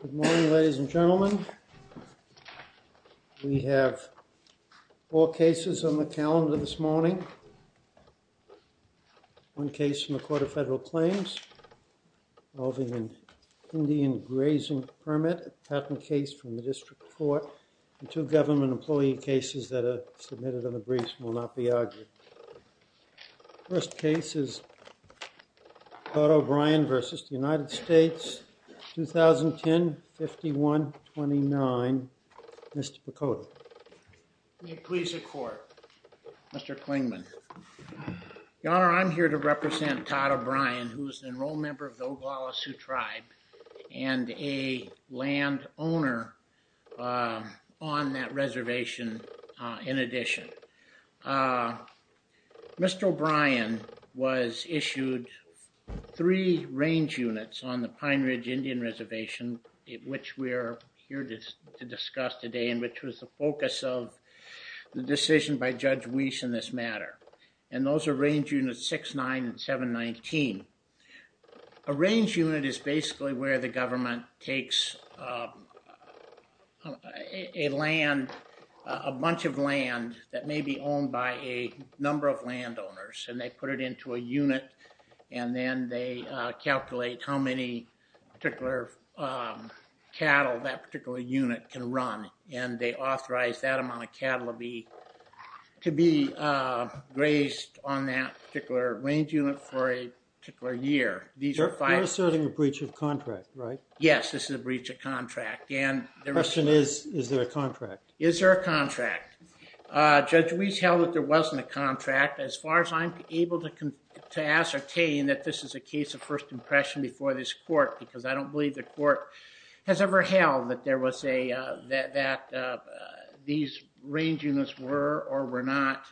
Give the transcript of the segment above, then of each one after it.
Good morning, ladies and gentlemen. We have four cases on the calendar this morning. One case from the Court of Federal Claims involving an Indian grazing permit, a patent case from the District Court, and two government employee cases that are submitted on the briefs and will not be argued. The first case is Todd O'Brien v. United States, 2010-51-29. Mr. Picotto. May it please the Court, Mr. Klingman. Your Honor, I'm here to represent Todd O'Brien, who is an enrolled member of the Oglala Sioux Tribe and a land owner on that reservation in addition. Mr. O'Brien was issued three range units on the Pine Ridge Indian Reservation, which we are here to discuss today and which was the focus of the decision by Judge Weiss in this matter. And those are range units 6-9 and 7-19. A range unit is basically where the government takes a bunch of land that may be owned by a number of landowners and they put it into a unit and then they calculate how many cattle that particular unit can run and they authorize that amount of cattle to be grazed on that particular range unit for a particular year. You're asserting a breach of contract, right? Yes, this is a breach of contract. The question is, is there a contract? Is there a contract? Judge Weiss held that there wasn't a contract. As far as I'm able to ascertain that this is a case of first impression before this court because I don't believe the court has ever held that these range units were or were not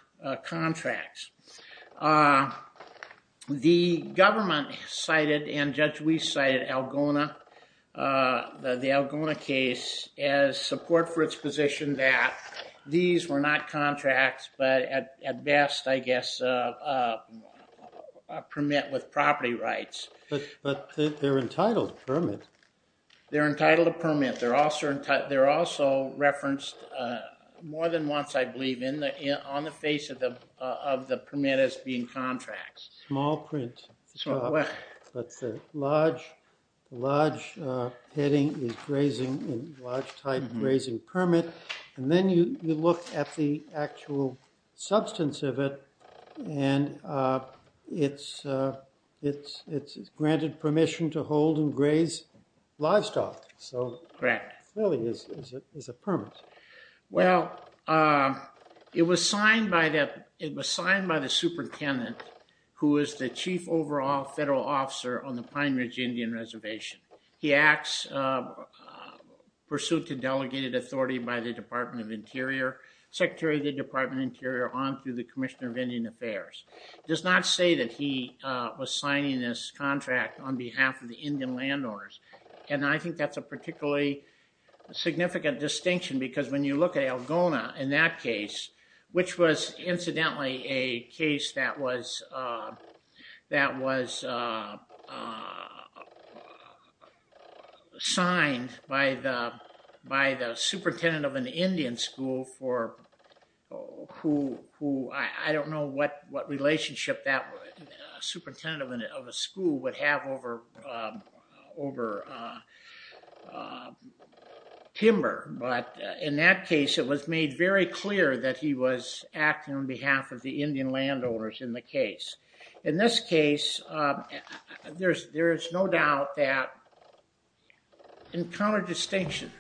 contracts. The government cited and Judge Weiss cited the Algona case as support for its position that these were not contracts but at best, I guess, a permit with property rights. But they're entitled permits. They're entitled to permits. They're also referenced more than once, I believe, on the face of the permit as being contracts. Small print. But the large heading is grazing, large type grazing permit. And then you look at the actual substance of it and it's granted permission to hold and graze livestock. So, really, it's a permit. Well, it was signed by the superintendent who is the chief overall federal officer on the Pine Ridge Indian Reservation. He acts pursuant to delegated authority by the Department of Interior, Secretary of the Department of Interior on to the Commissioner of Indian Affairs. It does not say that he was signing this contract on behalf of the Indian landowners. And I think that's a particularly significant distinction because when you look at Algona in that case, which was incidentally a case that was signed by the superintendent of an Indian school for who, I don't know what relationship that superintendent of a school would have over timber. But in that case, it was made very clear that he was acting on behalf of the Indian landowners in the case. In this case, there's no doubt that in counter distinction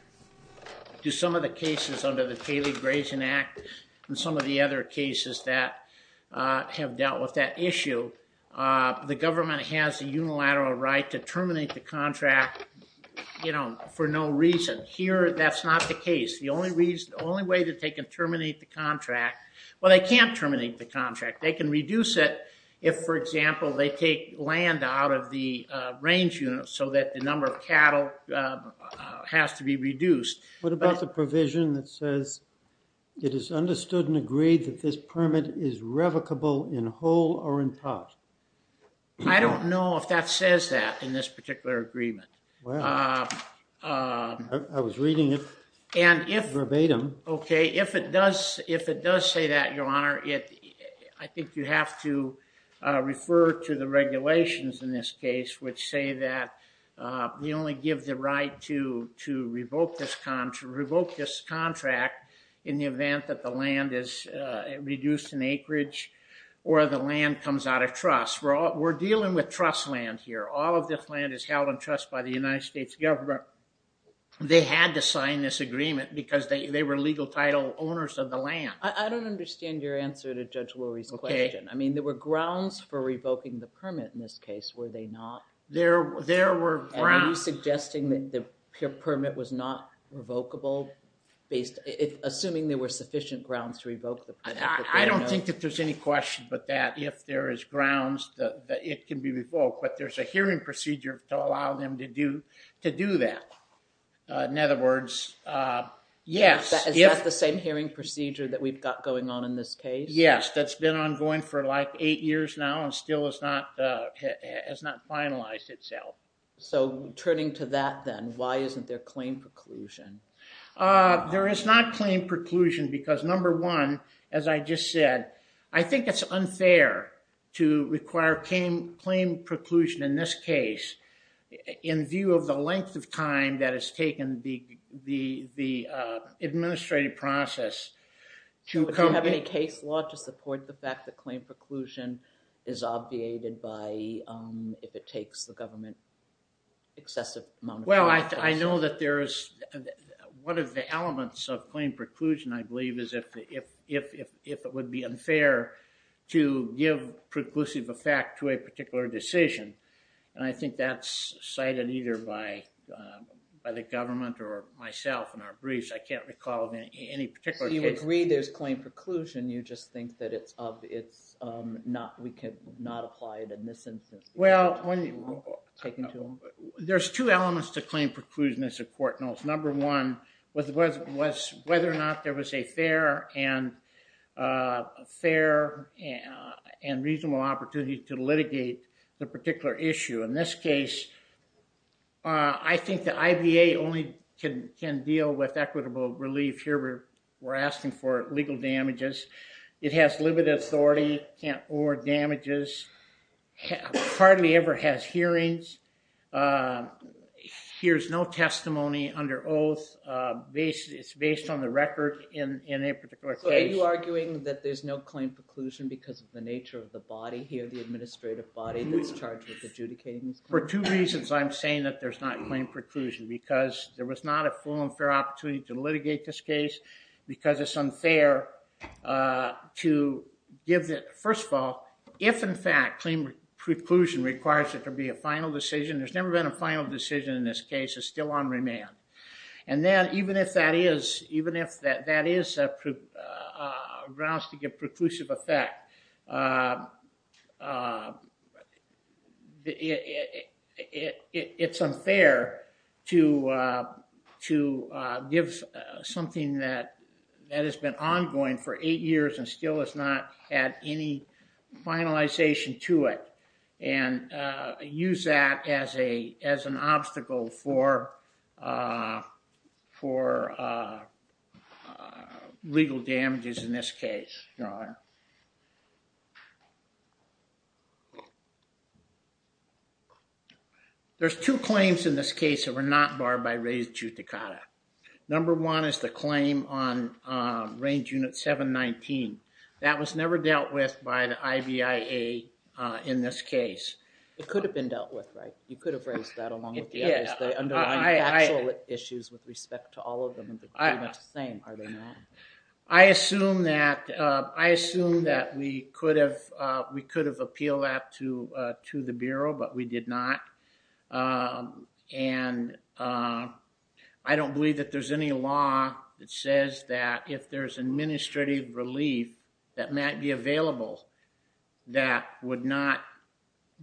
to some of the cases under the Paley Grazing Act and some of the other cases that have dealt with that issue, the government has a unilateral right to terminate the contract for no reason. Here, that's not the case. The only way that they can terminate the contract, well, they can't terminate the contract. They can reduce it if, for example, they take land out of the range unit so that the number of cattle has to be reduced. What about the provision that says it is understood and agreed that this permit is revocable in whole or in part? I don't know if that says that in this particular agreement. I was reading it verbatim. Okay, if it does say that, Your Honor, I think you have to refer to the regulations in this case which say that we only give the right to revoke this contract in the event that the land is reduced in acreage or the land comes out of trust. We're dealing with trust land here. All of this land is held in trust by the United States government. They had to sign this agreement because they were legal title owners of the land. I don't understand your answer to Judge Lurie's question. I mean, there were grounds for revoking the permit in this case, were they not? There were grounds. Are you suggesting that the permit was not revocable assuming there were sufficient grounds to revoke the permit? I don't think that there's any question but that if there is grounds that it can be revoked. But there's a hearing procedure to allow them to do that. In other words, yes. Is that the same hearing procedure that we've got going on in this case? Yes, that's been ongoing for like eight years now and still has not finalized itself. So turning to that then, why isn't there claim preclusion? There is not claim preclusion because number one, as I just said, I think it's unfair to require claim preclusion in this case in view of the length of time that has taken the administrative process. Do you have any case law to support the fact that claim preclusion is obviated if it takes the government excessive amount of time? Well, I know that there is one of the elements of claim preclusion, I believe, is if it would be unfair to give preclusive effect to a particular decision. And I think that's cited either by the government or myself in our briefs. I can't recall any particular case. You agree there's claim preclusion, you just think that it's not, we cannot apply it in this instance. Well, there's two elements to claim preclusion that's important. Number one was whether or not there was a fair and reasonable opportunity to litigate the particular issue. In this case, I think the IBA only can deal with equitable relief. Here we're asking for legal damages. It has limited authority, can't award damages, hardly ever has hearings, hears no testimony. Under oath, it's based on the record in a particular case. So are you arguing that there's no claim preclusion because of the nature of the body here, the administrative body that's charged with adjudicating this case? For two reasons I'm saying that there's not claim preclusion. Because there was not a full and fair opportunity to litigate this case because it's unfair to give the, first of all, if in fact claim preclusion requires it to be a final decision, there's never been a final decision in this case. It's still on remand. And then even if that is a grounds to give preclusive effect, it's unfair to give something that has been ongoing for eight years and still has not had any finalization to it and use that as an obstacle for legal damages in this case, Your Honor. There's two claims in this case that were not barred by res judicata. Number one is the claim on range unit 719. That was never dealt with by the IBIA in this case. It could have been dealt with, right? You could have raised that along with the others. They underlined the actual issues with respect to all of them and they're pretty much the same, are they not? I assume that we could have appealed that to the Bureau, but we did not. And I don't believe that there's any law that says that if there's administrative relief that might be available that would not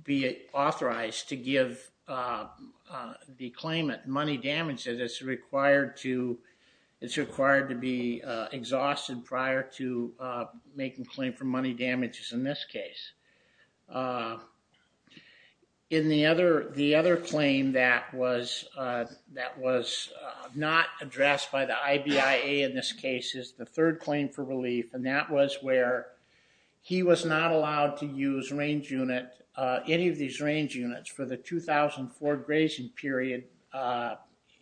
be authorized to give the claimant money damages. It's required to be exhausted prior to making claim for money damages in this case. The other claim that was not addressed by the IBIA in this case is the third claim for relief, and that was where he was not allowed to use any of these range units for the 2004 grazing period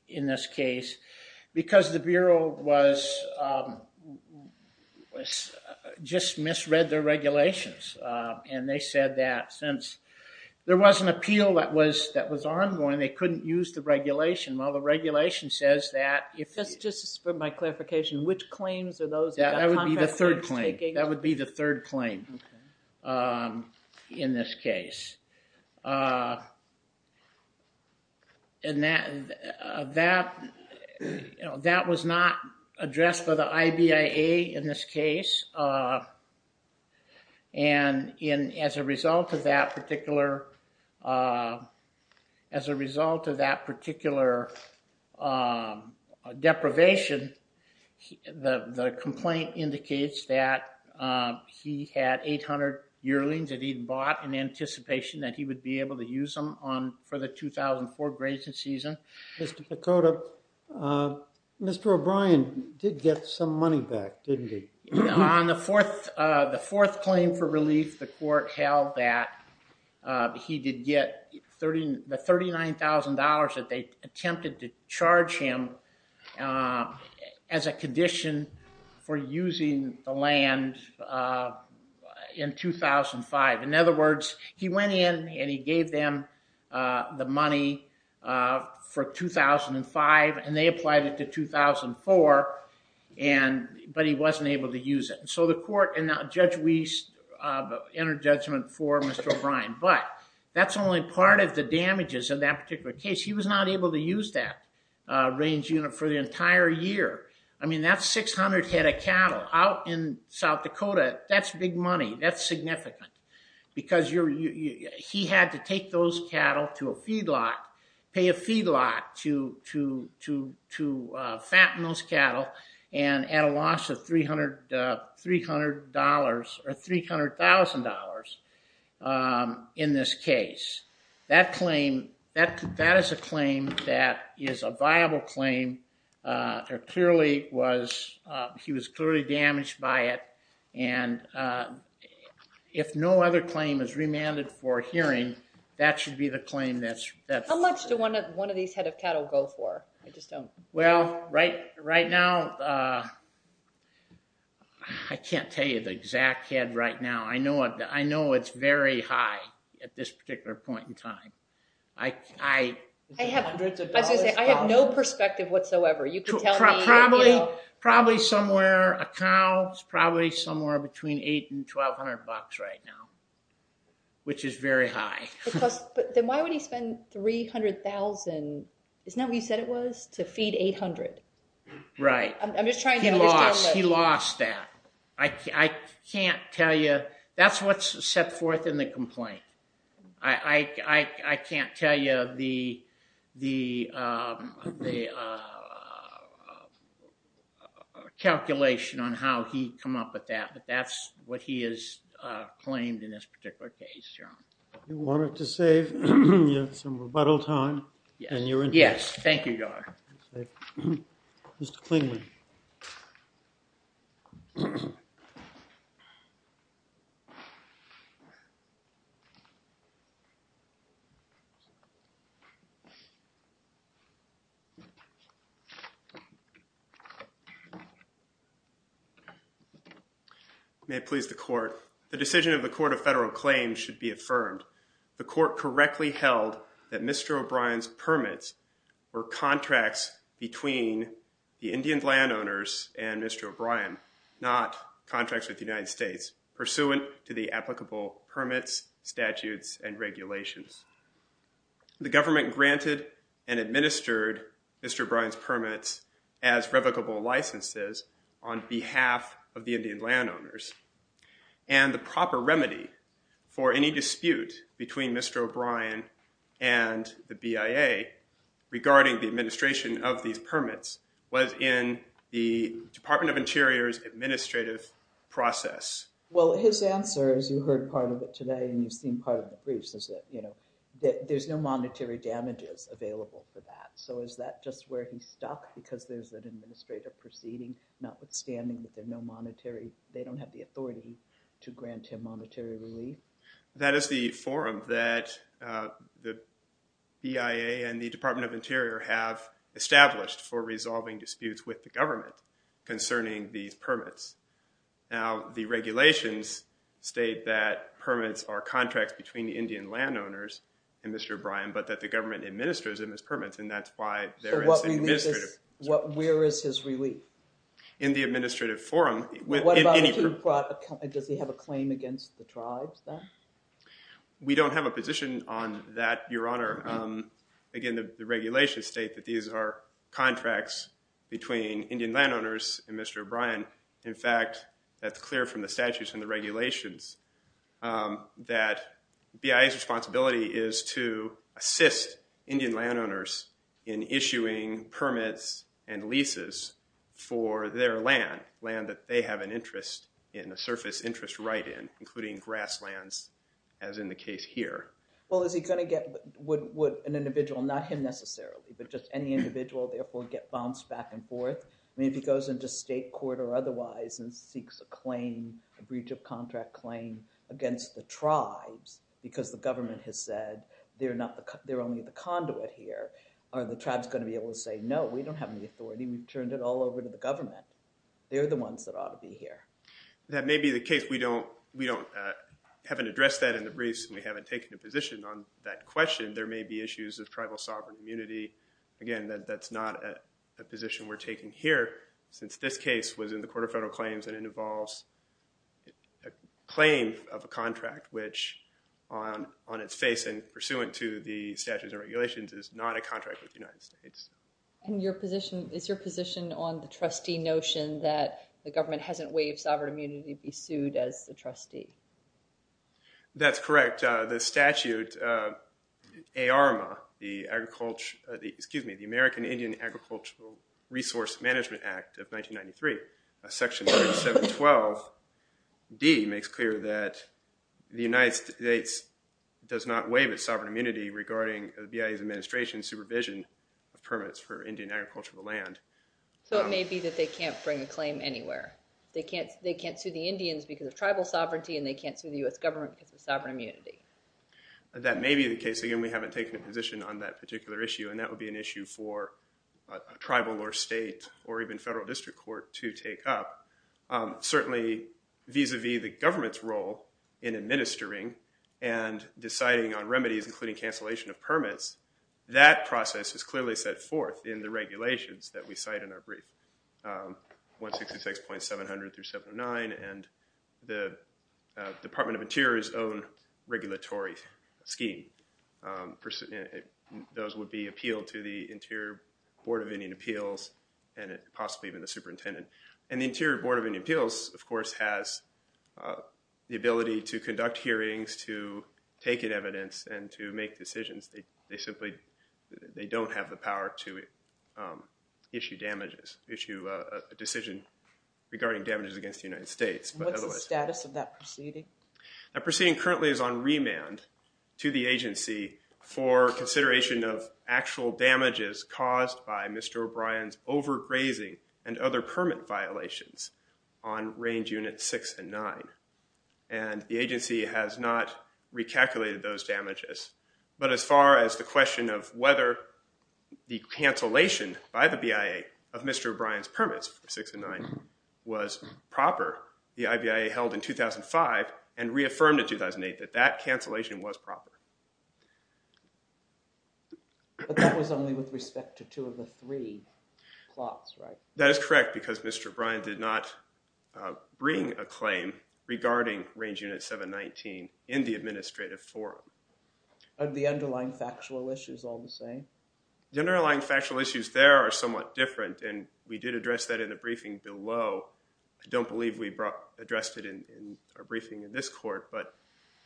in this case because the Bureau just misread their regulations. And they said that since there was an appeal that was ongoing they couldn't use the regulation. Well, the regulation says that... Just for my clarification, which claims are those? That would be the third claim in this case. And that was not addressed by the IBIA in this case. And as a result of that particular deprivation, the complaint indicates that he had 800 yearlings that he'd bought in anticipation that he would be able to use them for the 2004 grazing season. Mr. Picotta, Mr. O'Brien did get some money back, didn't he? On the fourth claim for relief, the court held that he did get the $39,000 that they attempted to charge him as a condition for using the land in 2005. In other words, he went in and he gave them the money for 2005 and they applied it to 2004, but he wasn't able to use it. So the court and Judge Wiest entered judgment for Mr. O'Brien, but that's only part of the damages in that particular case. He was not able to use that range unit for the entire year. I mean, that's 600 head of cattle. Out in South Dakota, that's big money. That's significant because he had to take those cattle to a feedlot, pay a feedlot to fatten those cattle, and at a loss of $300,000 in this case. That is a claim that is a viable claim. He was clearly damaged by it, and if no other claim is remanded for hearing, that should be the claim that's... How much do one of these head of cattle go for? I just don't... Well, right now, I can't tell you the exact head right now. I know it's very high at this particular point in time. I have no perspective whatsoever. You can tell me... Probably somewhere... A cow is probably somewhere between $800 and $1,200 right now, which is very high. Then why would he spend $300,000? Isn't that what you said it was, to feed 800? Right. He lost that. I can't tell you... That's what's set forth in the complaint. I can't tell you the calculation on how he'd come up with that, but that's what he has claimed in this particular case. You wanted to save some rebuttal time. Yes, thank you, Your Honor. Mr. Klingman. May it please the Court. The decision of the Court of Federal Claims should be affirmed. The Court correctly held that Mr. O'Brien's permits were contracts between the Indian landowners and Mr. O'Brien, not contracts with the United States, pursuant to the applicable permits, statutes, and regulations. The government granted and administered Mr. O'Brien's permits as revocable licenses on behalf of the Indian landowners, and the proper remedy for any dispute between Mr. O'Brien and the BIA regarding the administration of these permits was in the Department of Interior's administrative process. Well, his answer, as you heard part of it today and you've seen part of the briefs, is that there's no monetary damages available for that. So is that just where he's stuck, because there's an administrative proceeding, notwithstanding that they don't have the authority to grant him monetary relief? That is the forum that the BIA and the Department of Interior have established for resolving disputes with the government concerning these permits. Now, the regulations state that permits are contracts between the Indian landowners and Mr. O'Brien, but that the government administers them as permits, and that's why there is an administrative process. So where is his relief? In the administrative forum. Does he have a claim against the tribes, then? We don't have a position on that, Your Honor. Again, the regulations state that these are contracts between Indian landowners and Mr. O'Brien. In fact, that's clear from the statutes and the regulations that BIA's responsibility is to assist Indian landowners in issuing permits and leases for their land, land that they have an interest in, a surface interest right in, including grasslands, as in the case here. Well, is he going to get... Would an individual, not him necessarily, but just any individual, therefore, get bounced back and forth? I mean, if he goes into state court or otherwise and seeks a claim, a breach of contract claim, against the tribes because the government has said they're only the conduit here, are the tribes going to be able to say, no, we don't have any authority, we've turned it all over to the government? They're the ones that ought to be here. That may be the case. We haven't addressed that in the briefs and we haven't taken a position on that question. There may be issues of tribal sovereign immunity. Again, that's not a position we're taking here since this case was in the Court of Federal Claims and it involves a claim of a contract which, on its face and pursuant to the statutes and regulations, is not a contract with the United States. And your position, is your position on the trustee notion that the government hasn't waived sovereign immunity to be sued as the trustee? That's correct. The statute ARMA, the American Indian Agricultural Resource Management Act of 1993, section 712D, makes clear that the United States does not waive its sovereign immunity regarding the BIA's administration and supervision of permits for Indian agricultural land. So it may be that they can't bring a claim anywhere. They can't sue the Indians because of tribal sovereignty and they can't sue the U.S. government because of sovereign immunity. That may be the case. Again, we haven't taken a position on that particular issue and that would be an issue for a tribal or state or even federal district court to take up. Certainly, vis-a-vis the government's role in administering and deciding on remedies, including cancellation of permits, that process is clearly set forth in the regulations that we cite in our brief, 166.700-709, and the Department of Interior's own regulatory scheme. Those would be appealed to the Interior Board of Indian Appeals and possibly even the superintendent. And the Interior Board of Indian Appeals, of course, has the ability to conduct hearings, to take in evidence, and to make decisions. They simply don't have the power to issue damages, issue a decision regarding damages against the United States. What's the status of that proceeding? That proceeding currently is on remand to the agency for consideration of actual damages caused by Mr. O'Brien's overgrazing and other permit violations on Range Units 6 and 9. And the agency has not recalculated those damages. But as far as the question of whether the cancellation by the BIA of Mr. O'Brien's permits for 6 and 9 was proper, the IBIA held in 2005 and reaffirmed in 2008 that that cancellation was proper. But that was only with respect to two of the three plots, right? That is correct, because Mr. O'Brien did not bring a claim regarding Range Unit 719 in the administrative forum. Are the underlying factual issues all the same? The underlying factual issues there are somewhat different, and we did address that in the briefing below. I don't believe we addressed it in our briefing in this court, but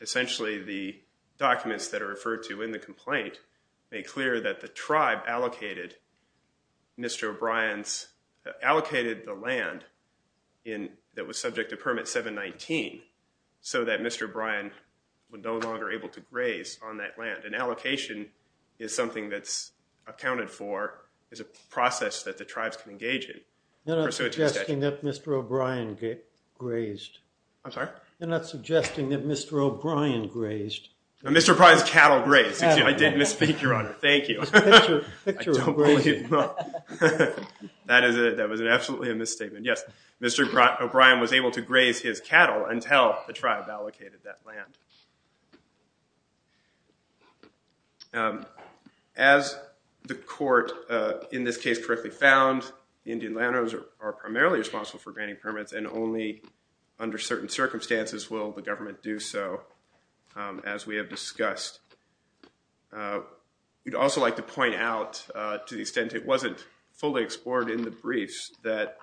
essentially the documents that are referred to in the complaint make clear that the tribe allocated Mr. O'Brien's allocated the land that was subject to Permit 719, so that Mr. O'Brien was no longer able to graze on that land. An allocation is something that's accounted for, is a process that the tribes can engage in. You're not suggesting that Mr. O'Brien grazed. I'm sorry? You're not suggesting that Mr. O'Brien grazed. Mr. O'Brien's cattle grazed. I did misspeak, Your Honor. Thank you. I don't believe that. That was absolutely a misstatement. Yes, Mr. O'Brien was able to graze his cattle until the tribe allocated that land. As the court in this case correctly found, the Indian landowners are primarily responsible for granting permits, and only under certain circumstances will the government do so, as we have discussed. We'd also like to point out, to the extent it wasn't fully explored in the briefs, that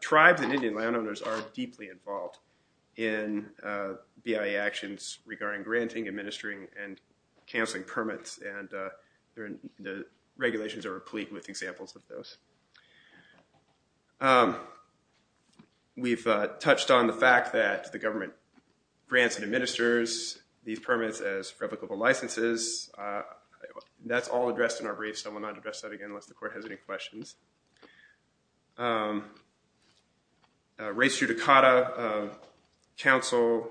tribes and Indian landowners are deeply involved in BIA actions regarding granting, administering, and canceling permits, and the regulations are replete with examples of those. We've touched on the fact that the government grants and administers these permits as replicable licenses. That's all addressed in our briefs. I will not address that again unless the court has any questions. Race judicata. Counsel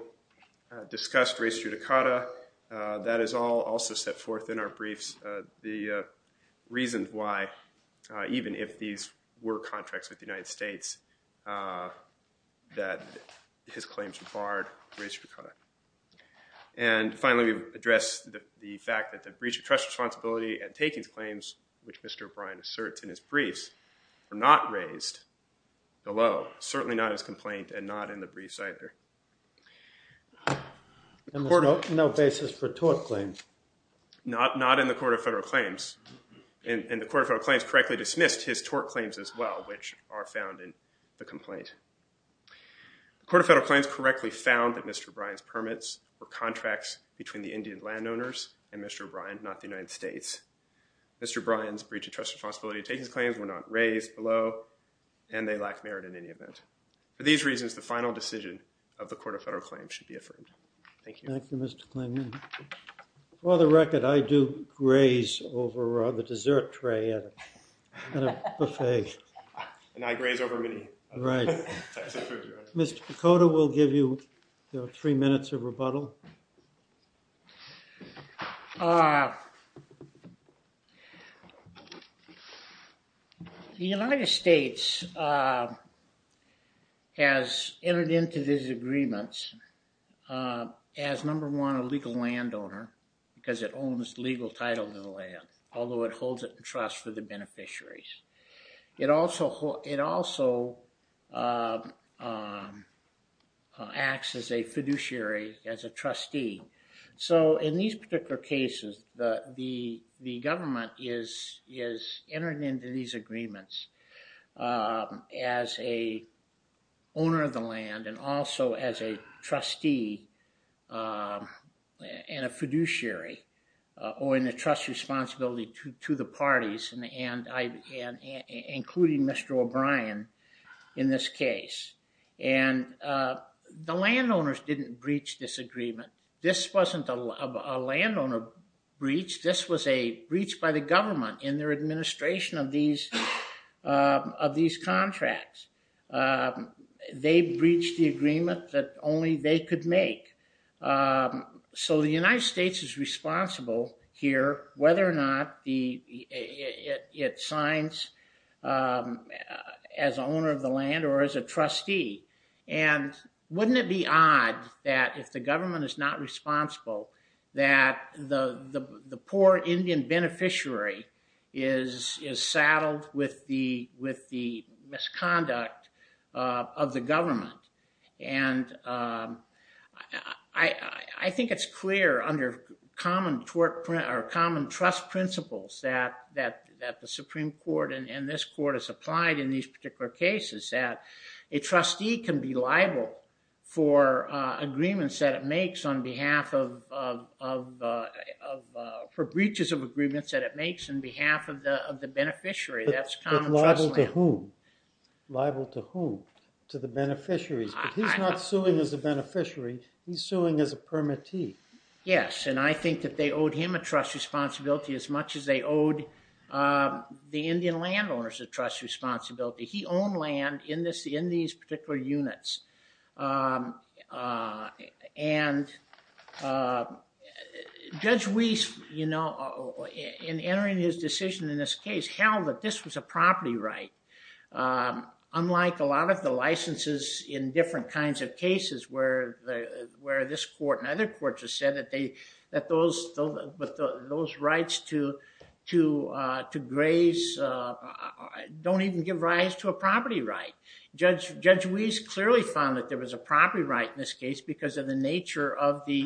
discussed race judicata. That is all also set forth in our briefs, the reasons why, even if these were contracts with the United States, that his claims barred race judicata. Finally, we've addressed the fact that the breach of trust responsibility and takings claims, which Mr. O'Brien asserts in his briefs, were not raised below. Certainly not in his complaint and not in the briefs either. There's no basis for tort claims. Not in the Court of Federal Claims. The Court of Federal Claims correctly dismissed his tort claims as well, which are found in the complaint. The Court of Federal Claims correctly found that Mr. O'Brien's permits were contracts between the Indian landowners and Mr. O'Brien, not the United States. Mr. O'Brien's breach of trust responsibility and takings claims were not raised below, and they lack merit in any event. For these reasons, the final decision of the Court of Federal Claims should be affirmed. Thank you. Thank you, Mr. Kleinman. For the record, I do graze over the dessert tray at a buffet. And I graze over many. Right. Mr. Picotta, we'll give you three minutes of rebuttal. The United States has entered into these agreements as, number one, a legal landowner, because it owns legal title to the land, although it holds it in trust for the beneficiaries. It also acts as a fiduciary, as a trustee. So in these particular cases, the government is entering into these agreements as a owner of the land and also as a trustee and a fiduciary, or in the trust responsibility to the parties. And including Mr. O'Brien in this case. And the landowners didn't breach this agreement. This wasn't a landowner breach. This was a breach by the government in their administration of these contracts. They breached the agreement that only they could make. So the United States is responsible here, whether or not it signs as owner of the land or as a trustee. And wouldn't it be odd that if the government is not responsible, that the poor Indian beneficiary is saddled with the misconduct of the government? And I think it's clear under common trust principles that the Supreme Court and this court has applied in these particular cases that a trustee can be liable for agreements that it makes on behalf of... for breaches of agreements that it makes on behalf of the beneficiary. But liable to whom? To the beneficiaries. But he's not suing as a beneficiary. He's suing as a permittee. Yes, and I think that they owed him a trust responsibility as much as they owed the Indian landowners a trust responsibility. He owned land in these particular units. And Judge Weiss, you know, in entering his decision in this case, held that this was a property right. Unlike a lot of the licenses in different kinds of cases where this court and other courts have said that those rights to graze don't even give rise to a property right. Judge Weiss clearly found that there was a property right in this case because of the nature of the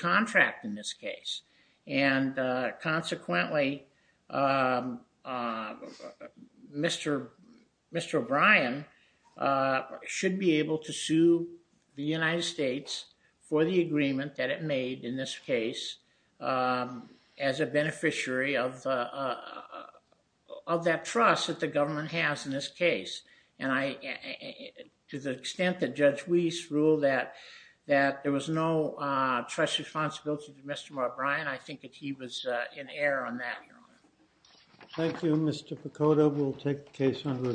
contract in this case. And consequently, Mr. O'Brien should be able to sue the United States for the agreement that it made in this case as a beneficiary of that trust that the government has in this case. And to the extent that Judge Weiss ruled that there was no trust responsibility to Mr. O'Brien, I think that he was in error on that. Thank you, Mr. Picotto. We'll take the case under review.